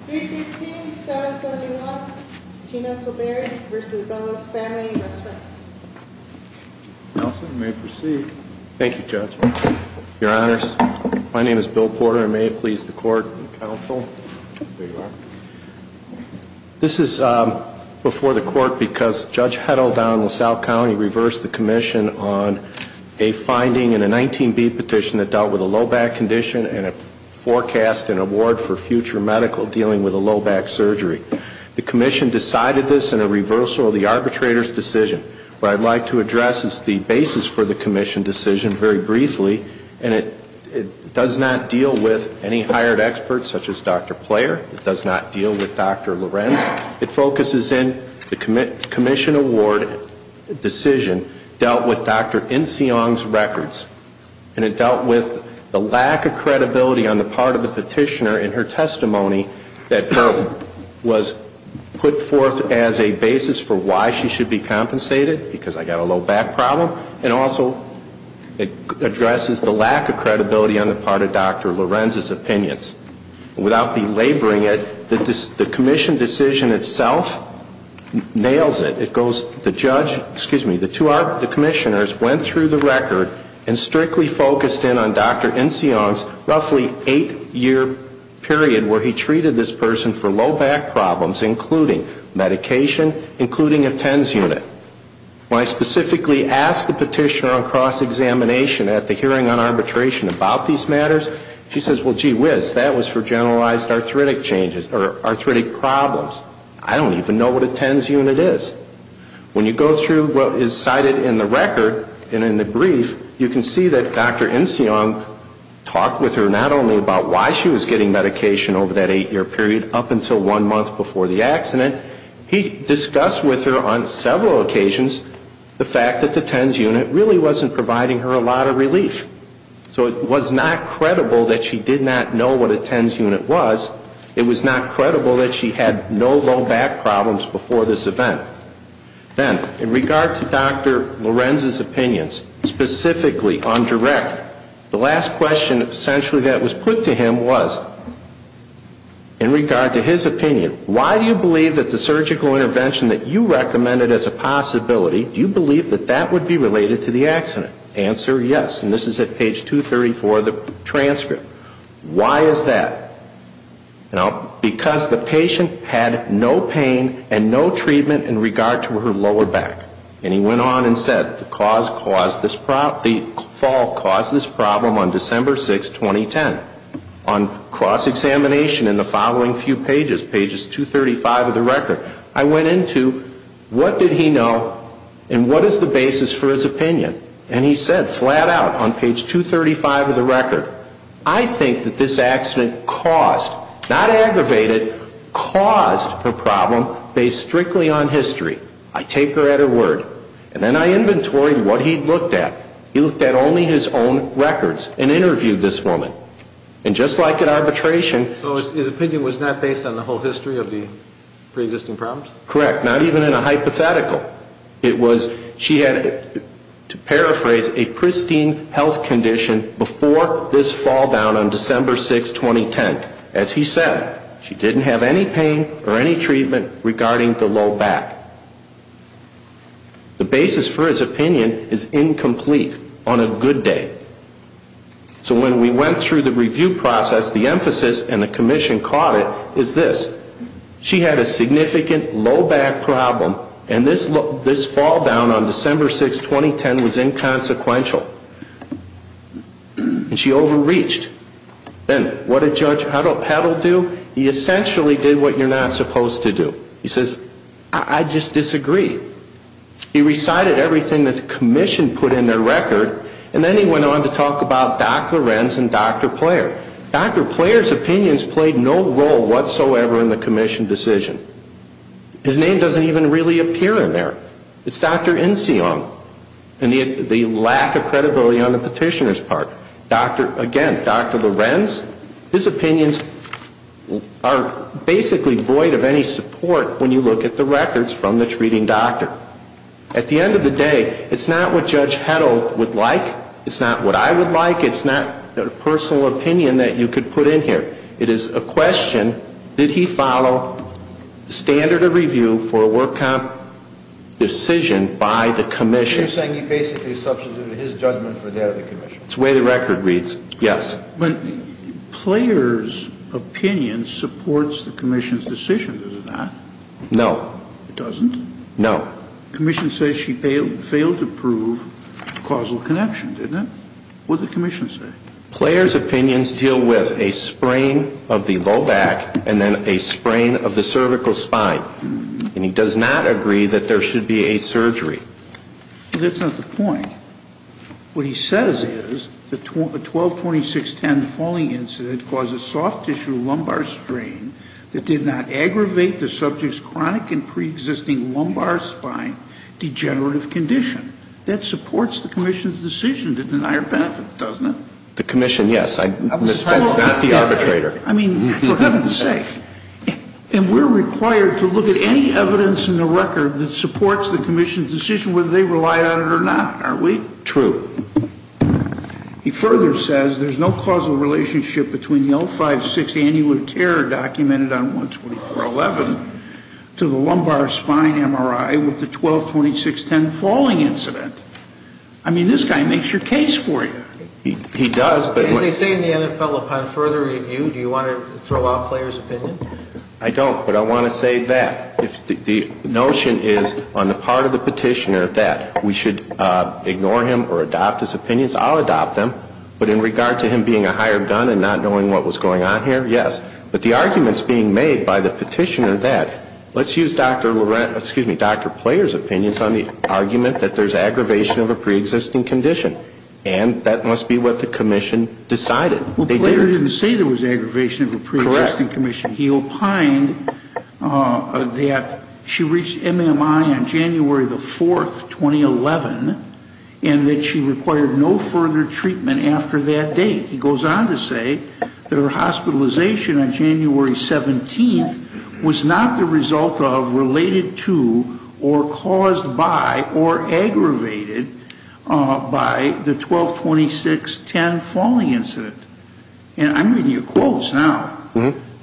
315-771 Tina Soberri v. Bellos Family Restaurant Nelson, you may proceed. Thank you, Judge. Your Honors, my name is Bill Porter. May it please the Court and the Council? There you are. This is before the Court because Judge Heddle down in South County reversed the commission on a finding in a 19B petition that dealt with a low back condition and a forecast and award for future medical dealing with a low back surgery. The commission decided this in a reversal of the arbitrator's decision. What I'd like to address is the basis for the commission decision very briefly. And it does not deal with any hired experts such as Dr. Player. It does not deal with Dr. Lorenz. It focuses in the commission award decision dealt with Dr. Inseon, the petitioner, and her testimony that was put forth as a basis for why she should be compensated because I got a low back problem and also it addresses the lack of credibility on the part of Dr. Lorenz's opinions. And without belaboring it, the commission decision itself nails it. It goes, the judge, excuse me, the two commissioners went through the record and strictly focused in on Dr. Inseon's eight year period where he treated this person for low back problems including medication, including a TENS unit. When I specifically asked the petitioner on cross-examination at the hearing on arbitration about these matters, she says, well, gee whiz, that was for generalized arthritic changes or arthritic problems. I don't even know what a TENS unit is. When you go through what is cited in the record and in the brief, you can see that Dr. Inseon talked with her not only about why she was getting medication over that eight year period up until one month before the accident. He discussed with her on several occasions the fact that the TENS unit really wasn't providing her a lot of relief. So it was not credible that she did not know what a TENS unit was. It was not credible that she had no low back problems before this event. Then, in regard to Dr. Lorenz's opinions, specifically on direct, the last question essentially that was put to him was, in regard to his opinion, why do you believe that the surgical intervention that you recommended as a possibility, do you believe that that would be related to the accident? Answer, yes. And this is at page 234 of the transcript. Why is that? Because the patient had no pain and no treatment in regard to her lower back. And he went on and said, the fall caused this problem on December 6, 2010. On cross-examination in the following few pages, pages 235 of the record, I went into what did he know and what is the basis for his opinion? And he said flat out on page 235 of the record, I think that this accident caused, not aggravated, caused her problem based strictly on history. I take her at her word. And then I inventory what he looked at. He looked at only his own records and interviewed this woman. And just like in arbitration. So his opinion was not based on the whole history of the pre-existing problems? Correct. Not even in a hypothetical. It was, she had, to paraphrase, a pristine health condition before this fall down on December 6, 2010. As he said, she didn't have any pain or any treatment regarding the low back. The basis for his opinion is incomplete on a good day. So when we went through the review process, the emphasis, and the commission caught it, is this. She had a significant low back problem. And this fall down on December 6, 2010 was inconsequential. And she overreached. Then what did Judge Heddle do? He essentially did what you're not supposed to do. He says, I just disagree. He recited everything that the commission put in their record. And then he went on to talk about Dr. Renz and Dr. Player. Dr. Player's opinions played no role whatsoever in the commission decision. His name doesn't even really appear in there. It's Dr. Inseong. And the lack of credibility on the petitioner's part. Again, Dr. Lorenz, his opinions are basically void of any support when you look at the records from the treating doctor. At the end of the day, it's not what Judge Heddle would like. It's not what I would like. It's not a personal opinion that you could put in here. It is a question, did he follow the standard of review for a work comp decision by the commission? So you're saying he basically substituted his judgment for that of the commission? It's the way the record reads. Yes. But Player's opinion supports the commission's decision, does it not? No. It doesn't? No. The commission says she failed to prove causal connection, didn't it? What did the commission say? Player's opinions deal with a sprain of the low back and then a sprain of the cervical spine. And he does not agree that there should be a surgery. That's not the point. What he says is the 122610 falling incident caused a soft tissue lumbar strain that did not aggravate the subject's chronic and preexisting lumbar spine degenerative condition. That supports the commission's decision to deny her benefit, doesn't it? The commission, yes. I'm not the arbitrator. I mean, for heaven's sake. And we're required to look at any evidence in the record that supports the commission's decision whether they relied on it or not, aren't we? True. He further says there's no causal relationship between the 056 annual care documented on 12411 to the lumbar spine MRI with the 122610 falling incident. I mean, this guy makes your case for you. He does, but- As they say in the NFL, upon further review, do you want to throw out Player's opinion? I don't, but I want to say that. The notion is on the part of the petitioner that we should ignore him or adopt his opinions. I'll adopt them. But in regard to him being a higher gun and not knowing what was going on here, yes. But the arguments being made by the petitioner that let's use Dr. Laurent, excuse me, Dr. Player's opinions on the argument that there's aggravation of a preexisting condition. And that must be what the commission decided. Well, Player didn't say there was aggravation of a preexisting condition. He opined that she reached MMI on January the 4th, 2011, and that she required no further treatment after that date. He goes on to say that her hospitalization on January 17th was not the result of, related to, or caused by, or aggravated by the 122610 falling incident. And I'm reading your quotes now.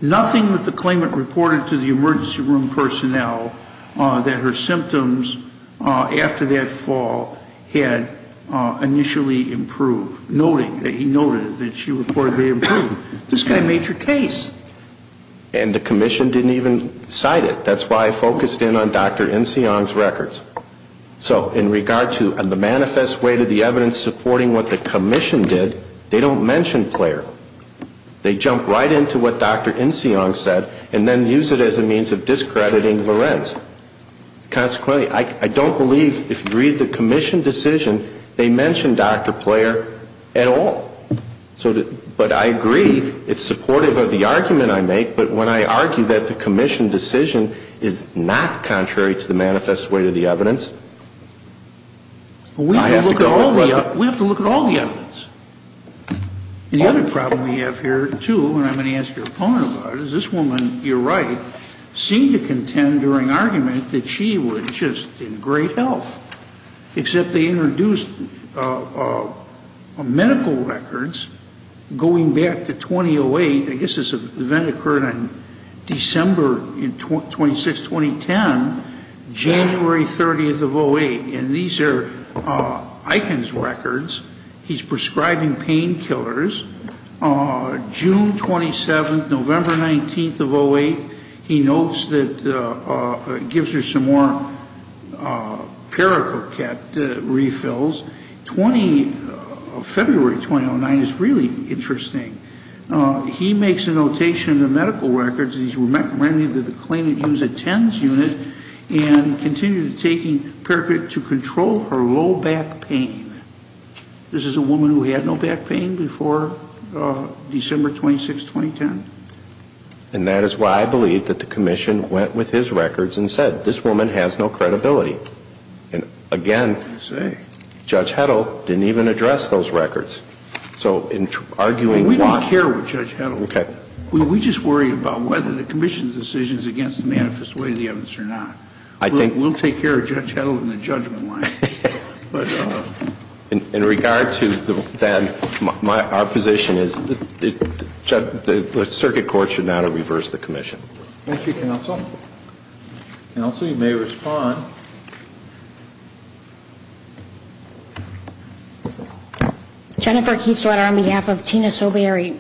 Nothing that the claimant reported to the emergency room personnel that her symptoms after that fall had initially improved. Noting that he noted that she reportedly improved. This guy made your case. And the commission didn't even cite it. That's why I focused in on Dr. Nsiang's records. So in regard to the manifest way to the evidence supporting what the commission did, they don't mention Player. They jump right into what Dr. Nsiang said, and then use it as a means of discrediting Lorenz. Consequently, I don't believe, if you read the commission decision, they mention Dr. Player at all. But I agree, it's supportive of the argument I make. But when I argue that the commission decision is not contrary to the manifest way to the evidence, I have to go over it. We have to look at all the evidence. And the other problem we have here, too, and I'm going to ask your opponent about it, is this woman, you're right, seemed to contend during argument that she was just in great health. Except they introduced medical records going back to 2008. I guess this event occurred on December 26, 2010, January 30th of 08. And these are Eichen's records. He's prescribing painkillers, June 27th, November 19th of 08. He notes that, gives her some more paracroket refills. February 2009 is really interesting. He makes a notation in the medical records, he's recommending that the claimant use a TENS unit and continue taking paracrot to control her low back pain. This is a woman who had no back pain before December 26, 2010. And that is why I believe that the commission went with his records and said, this woman has no credibility. And again, Judge Heddle didn't even address those records. So in arguing- We don't care with Judge Heddle. Okay. We just worry about whether the commission's decision is against the manifest way of the evidence or not. I think- We'll take care of Judge Heddle in the judgment line. But in regard to that, our position is that the circuit court should now reverse the commission. Thank you, counsel. Counsel, you may respond. Jennifer Kiesletter on behalf of Tina Soberry.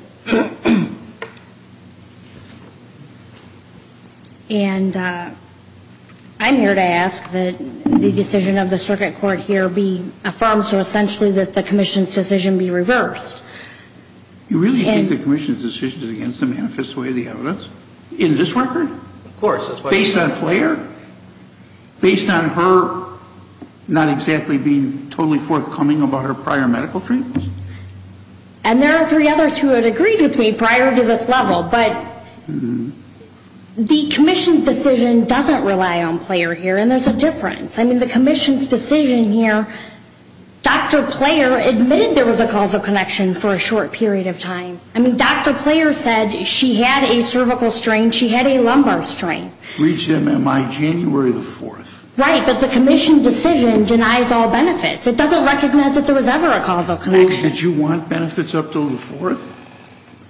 And I'm here to ask that the decision of the circuit court here be affirmed so essentially that the commission's decision be reversed. You really think the commission's decision is against the manifest way of the evidence in this record? Of course. Based on Flaher? Based on her not exactly being totally forthcoming about her prior medical treatments? And there are three other two of those. I don't know if you would have agreed with me prior to this level, but the commission's decision doesn't rely on Flaher here. And there's a difference. I mean, the commission's decision here, Dr. Flaher admitted there was a causal connection for a short period of time. I mean, Dr. Flaher said she had a cervical strain. She had a lumbar strain. Reads MMI January the 4th. Right, but the commission's decision denies all benefits. It doesn't recognize that there was ever a causal connection. Did you want benefits up until the 4th?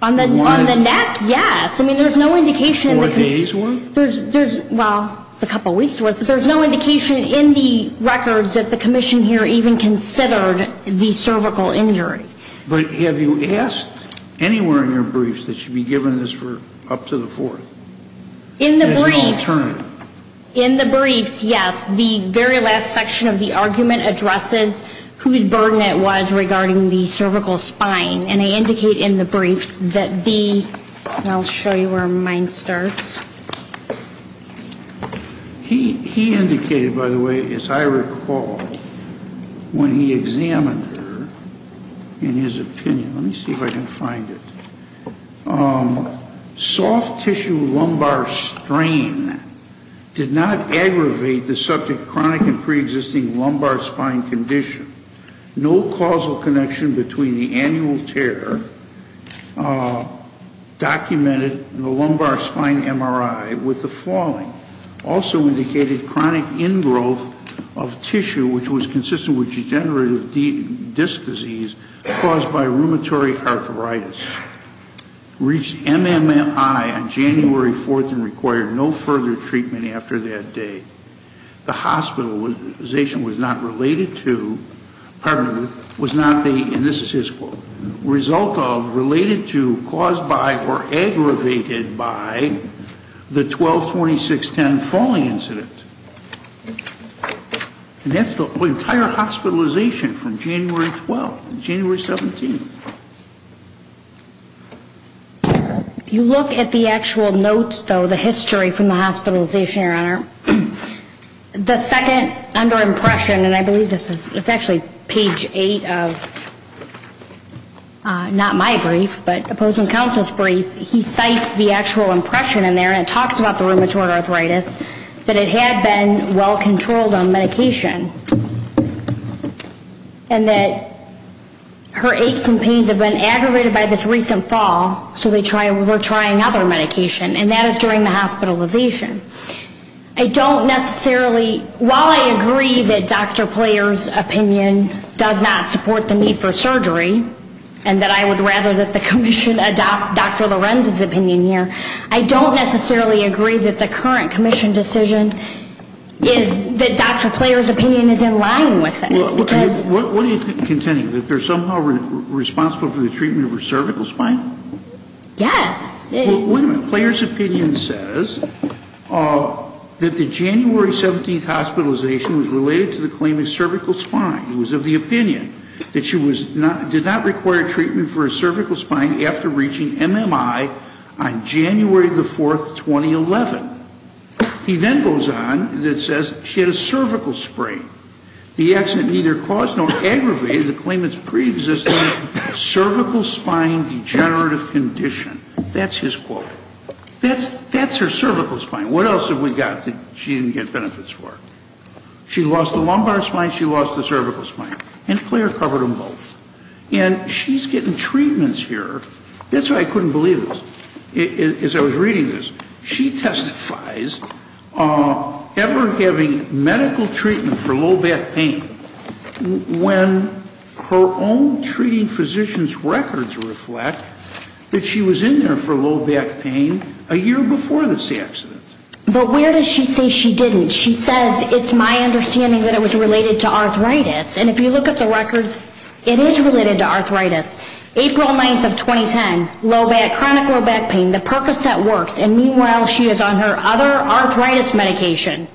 On the neck, yes. I mean, there's no indication. Four days worth? There's, well, it's a couple weeks worth. There's no indication in the records that the commission here even considered the cervical injury. But have you asked anywhere in your briefs that she be given this for up to the 4th? In the briefs, in the briefs, yes. The very last section of the argument addresses whose burden it was regarding the cervical spine. And I indicate in the briefs that the, and I'll show you where mine starts. He indicated, by the way, as I recall, when he examined her, in his opinion, let me see if I can find it. Soft tissue lumbar strain did not aggravate the subject chronic and pre-existing lumbar spine condition. No causal connection between the annual tear documented in the lumbar spine MRI with the falling. Also indicated chronic ingrowth of tissue, which was consistent with degenerative disc disease caused by rheumatoid arthritis. Reached MMI on January 4th and required no further treatment after that day. The hospitalization was not related to, pardon me, was not the, and this is his quote. Result of related to, caused by, or aggravated by the 12-26-10 falling incident. And that's the entire hospitalization from January 12th to January 17th. If you look at the actual notes, though, the history from the hospitalization, your honor, the second under impression, and I believe this is, it's actually page eight of not my brief, but opposing counsel's brief, he cites the actual impression in there, and it talks about the rheumatoid arthritis, that it had been well controlled on medication. And that her aches and pains have been aggravated by this recent fall, so they try, we're trying other medication, and that is during the hospitalization. I don't necessarily, while I agree that Dr. Player's opinion does not support the need for surgery, and that I would rather that the commission adopt Dr. Lorenz's opinion here, I don't necessarily agree that the current commission decision is, that Dr. Player's opinion is in line with it, because- What do you, continue, that they're somehow responsible for the treatment of her cervical spine? Yes. Well, wait a minute, Player's opinion says that the January 17th hospitalization was related to the claim of cervical spine. It was of the opinion that she was not, did not require treatment for her cervical spine after reaching MMI on January the 4th, 2011. He then goes on, and it says, she had a cervical sprain. The accident neither caused nor aggravated the claimant's pre-existing cervical spine degenerative condition. That's his quote. That's her cervical spine, what else have we got that she didn't get benefits for? She lost the lumbar spine, she lost the cervical spine, and Player covered them both. And she's getting treatments here, that's why I couldn't believe this, as I was reading this. She testifies, ever having medical treatment for low back pain, when her own treating physician's records reflect that she was in there for low back pain a year before this accident. But where does she say she didn't? She says, it's my understanding that it was related to arthritis, and if you look at the records, it is related to arthritis. April 9th of 2010, low back, chronic low back pain, the Percocet works, and meanwhile she is on her other arthritis medication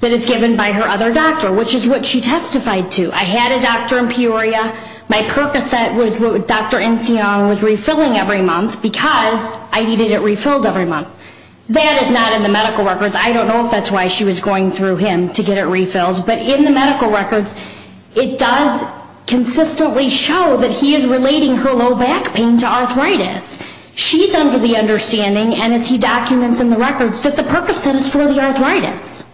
that is given by her other doctor, which is what she testified to. I had a doctor in Peoria, my Percocet was what Dr. Inseong was refilling every month, because I needed it refilled every month. That is not in the medical records, I don't know if that's why she was going through him to get it refilled, but in the medical records, it does consistently show that he is relating her low back pain to arthritis. She's under the understanding, and as he documents in the records, that the Percocet is for the arthritis.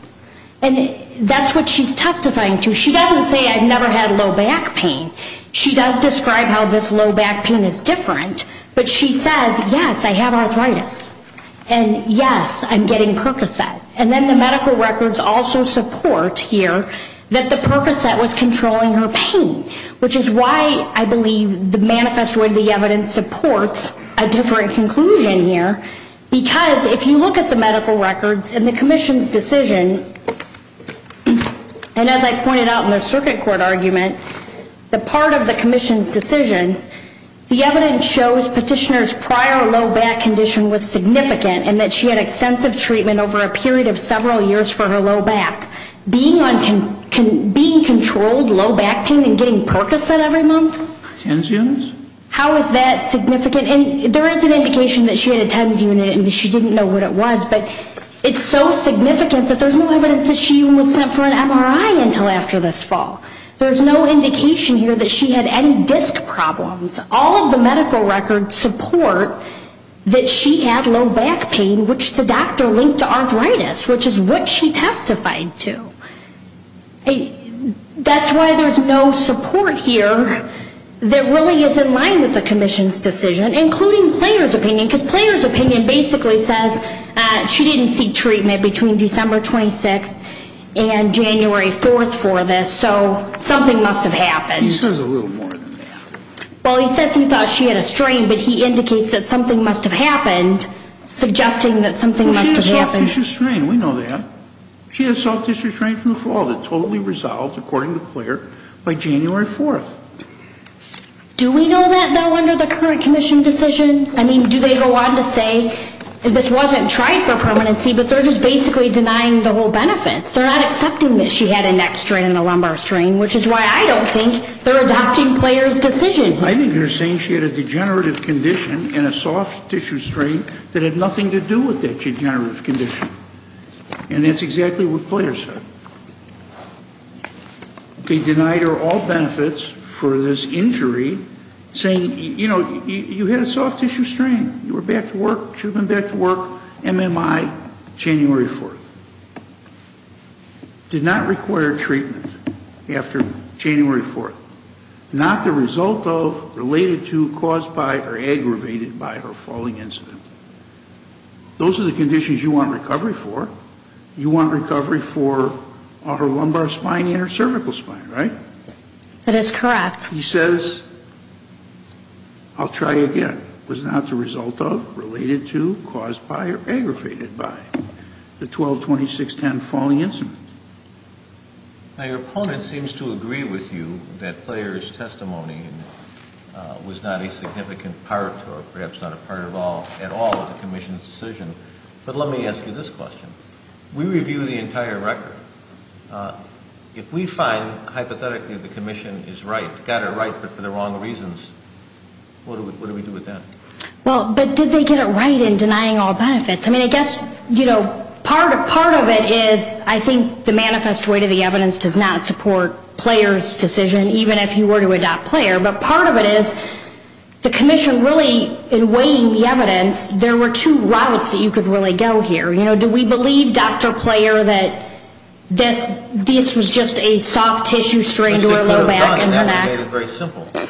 And that's what she's testifying to. She doesn't say, I've never had low back pain. She does describe how this low back pain is different, but she says, yes, I have arthritis. And yes, I'm getting Percocet. And then the medical records also support here that the Percocet was controlling her pain, which is why I believe the manifesto of the evidence supports a different conclusion here, because if you look at the medical records and the commission's decision, and as I pointed out in the circuit court argument, the part of the commission's decision, the evidence shows petitioner's prior low back condition was significant, and that she had extensive treatment over a period of several years for her low back. Being controlled low back pain and getting Percocet every month? TENS units? How is that significant? And there is an indication that she had a TENS unit and she didn't know what it was, but it's so significant that there's no evidence that she was sent for an MRI until after this fall. There's no indication here that she had any disc problems. All of the medical records support that she had low back pain, which the doctor linked to arthritis, which is what she testified to. That's why there's no support here that really is in line with the commission's decision, including player's opinion, because player's opinion basically says she didn't seek treatment between December 26th and January 4th for this, so something must have happened. He says a little more than that. Well, he says he thought she had a strain, but he indicates that something must have happened, suggesting that something must have happened. Well, she had a soft tissue strain. We know that. She had a soft tissue strain from the fall that totally resolved, according to player, by January 4th. Do we know that, though, under the current commission decision? I mean, do they go on to say this wasn't tried for permanency, but they're just basically denying the whole benefits? They're not accepting that she had a neck strain and a lumbar strain, which is why I don't think they're adopting player's decision. I think they're saying she had a degenerative condition and a soft tissue strain that had nothing to do with that degenerative condition, and that's exactly what player said. He denied her all benefits for this injury, saying, you know, you had a soft tissue strain. You were back to work. She'd been back to work, MMI, January 4th. Did not require treatment after January 4th. Not the result of, related to, caused by, or aggravated by her falling incident. Those are the conditions you want recovery for. You want recovery for her lumbar spine and her cervical spine, right? That is correct. He says, I'll try again, was not the result of, related to, caused by, or aggravated by the 12-26-10 falling incident. Now, your opponent seems to agree with you that player's testimony was not a significant part or perhaps not a part at all of the commission's decision. But let me ask you this question. We reviewed the entire record. If we find, hypothetically, the commission is right, got it right, but for the wrong reasons, what do we do with that? Well, but did they get it right in denying all benefits? I mean, I guess, you know, part of it is, I think the manifest way to the evidence does not support player's decision, even if you were to adopt player. But part of it is, the commission really, in weighing the evidence, there were two routes that you could really go here. You know, do we believe, Dr. Player, that this was just a soft-tissue strain to her low back and her neck?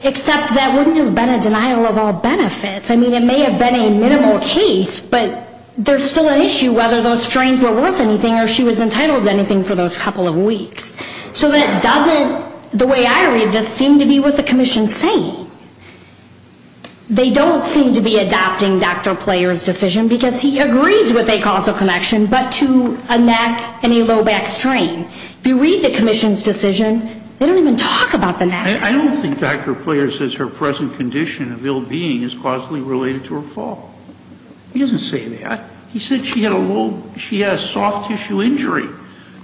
Except that wouldn't have been a denial of all benefits. I mean, it may have been a minimal case, but there's still an issue whether those strains were worth anything or she was entitled to anything for those couple of weeks. So that doesn't, the way I read this, seem to be what the commission's saying. They don't seem to be adopting Dr. Player's decision because he agrees with a causal connection but to a neck and a low back strain. If you read the commission's decision, they don't even talk about the neck. I don't think Dr. Player says her present condition of ill-being is causally related to her fall. He doesn't say that. He said she had a soft-tissue injury.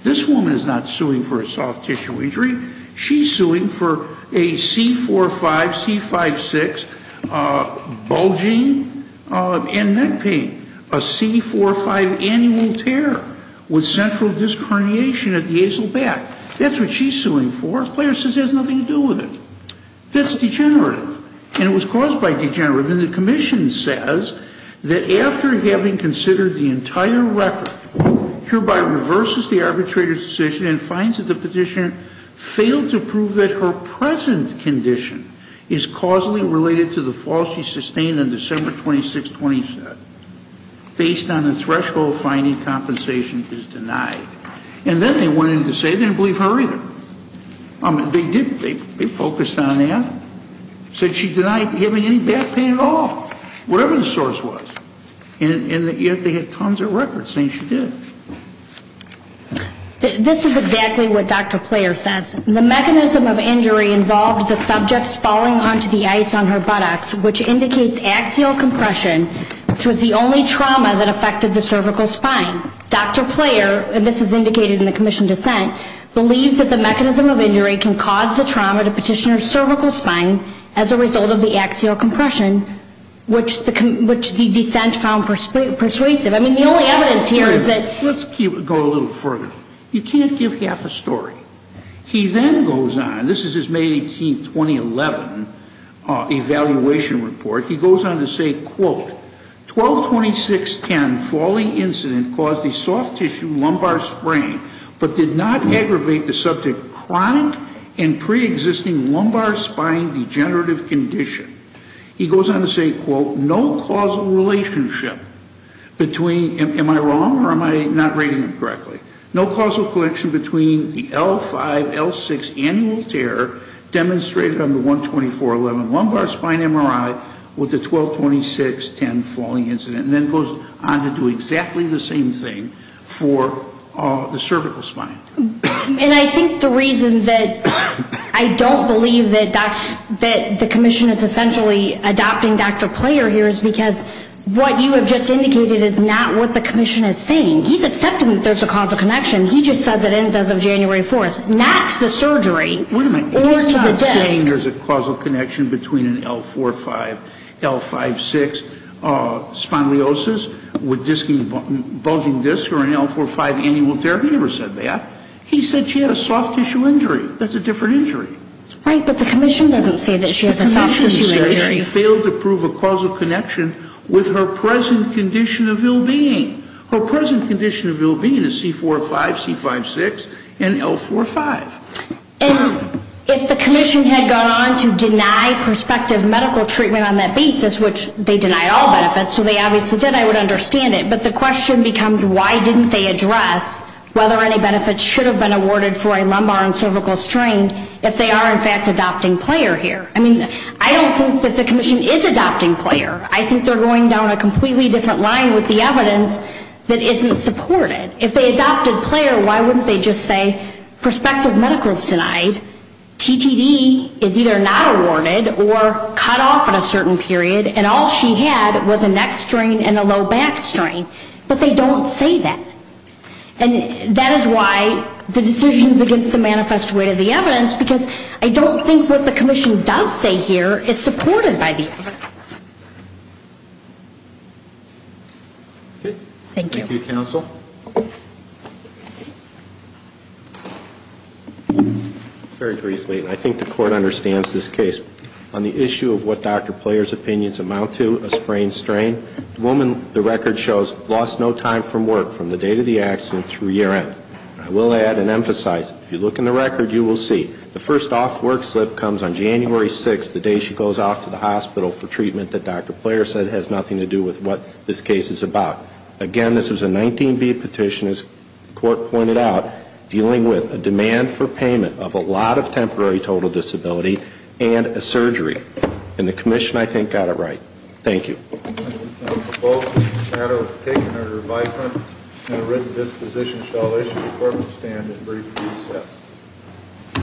This woman is not suing for a soft-tissue injury. She's suing for a C4-5, C5-6 bulging and neck pain, a C4-5 annual tear with central disc herniation at the azle back. That's what she's suing for. Dr. Player says it has nothing to do with it. That's degenerative. And it was caused by degenerative. And the commission says that after having considered the entire record, hereby reverses the arbitrator's decision and finds that the petitioner failed to prove that her present condition is causally related to the fall she sustained on December 26, 2017. Based on the threshold finding, compensation is denied. And then they went in to say they didn't believe her either. They focused on that. Said she denied having any back pain at all, whatever the source was. And yet they had tons of records saying she did. This is exactly what Dr. Player says. The mechanism of injury involved the subjects falling onto the ice on her buttocks, which indicates axial compression, which was the only trauma that affected the cervical spine. Dr. Player, and this is indicated in the commission dissent, believes that the mechanism of injury can cause the trauma to petitioner's cervical spine as a result of the axial compression, which the dissent found persuasive. I mean, the only evidence here is that... Let's go a little further. You can't give half a story. He then goes on. This is his May 18, 2011 evaluation report. He goes on to say, quote, 122610 falling incident caused a soft tissue lumbar sprain but did not aggravate the subject's chronic and pre-existing lumbar spine degenerative condition. He goes on to say, quote, no causal relationship between... Am I wrong or am I not reading it correctly? No causal connection between the L5, L6 annual tear demonstrated on the 12411 lumbar spine MRI with the 122610 falling incident. And then goes on to do exactly the same thing for the cervical spine. And I think the reason that I don't believe that the commission is essentially adopting Dr. Player here is because what you have just indicated is not what the commission is saying. He's accepting that there's a causal connection. He just says it ends as of January 4th. Not to the surgery or to the disc. He's not saying there's a causal connection between an L4-5, L5-6 spondylosis with bulging discs or an L4-5 annual tear. He never said that. He said she had a soft tissue injury. That's a different injury. Right, but the commission doesn't say that she has a soft tissue injury. The commission failed to prove a causal connection with her present condition of ill-being. Her present condition of ill-being is C4-5, C5-6, and L4-5. And if the commission had gone on to deny prospective medical treatment on that basis, which they denied all benefits, so they obviously did, I would understand it. But the question becomes why didn't they address whether any benefits should have been awarded for a lumbar and cervical strain if they are in fact adopting Player here? I mean, I don't think that the commission is adopting Player. I think they're going down a completely different line with the evidence that isn't supported. If they adopted Player, why wouldn't they just say prospective medical is denied, TTD is either not awarded or cut off at a certain period, and all she had was a neck strain and a low back strain? But they don't say that. And that is why the decisions against the manifest weight of the evidence because I don't think what the commission does say here is supported by the evidence. Thank you. Thank you, counsel. Very briefly, I think the court understands this case. On the issue of what Dr. Player's opinions amount to, a sprain strain, the woman, the record shows, lost no time from work from the date of the accident through year end. I will add and emphasize, if you look in the record, you will see the first off work slip comes on January 6th, the day she goes off to the hospital for treatment that Dr. Player said has nothing to do with what this case is about. Again, this was a 19B petition, as the court pointed out, dealing with a demand for payment of a lot of temporary total disability and a surgery. And the commission, I think, got it right. Thank you. The motion is a matter of taking under advisement and a written disposition shall issue before the stand and brief recess.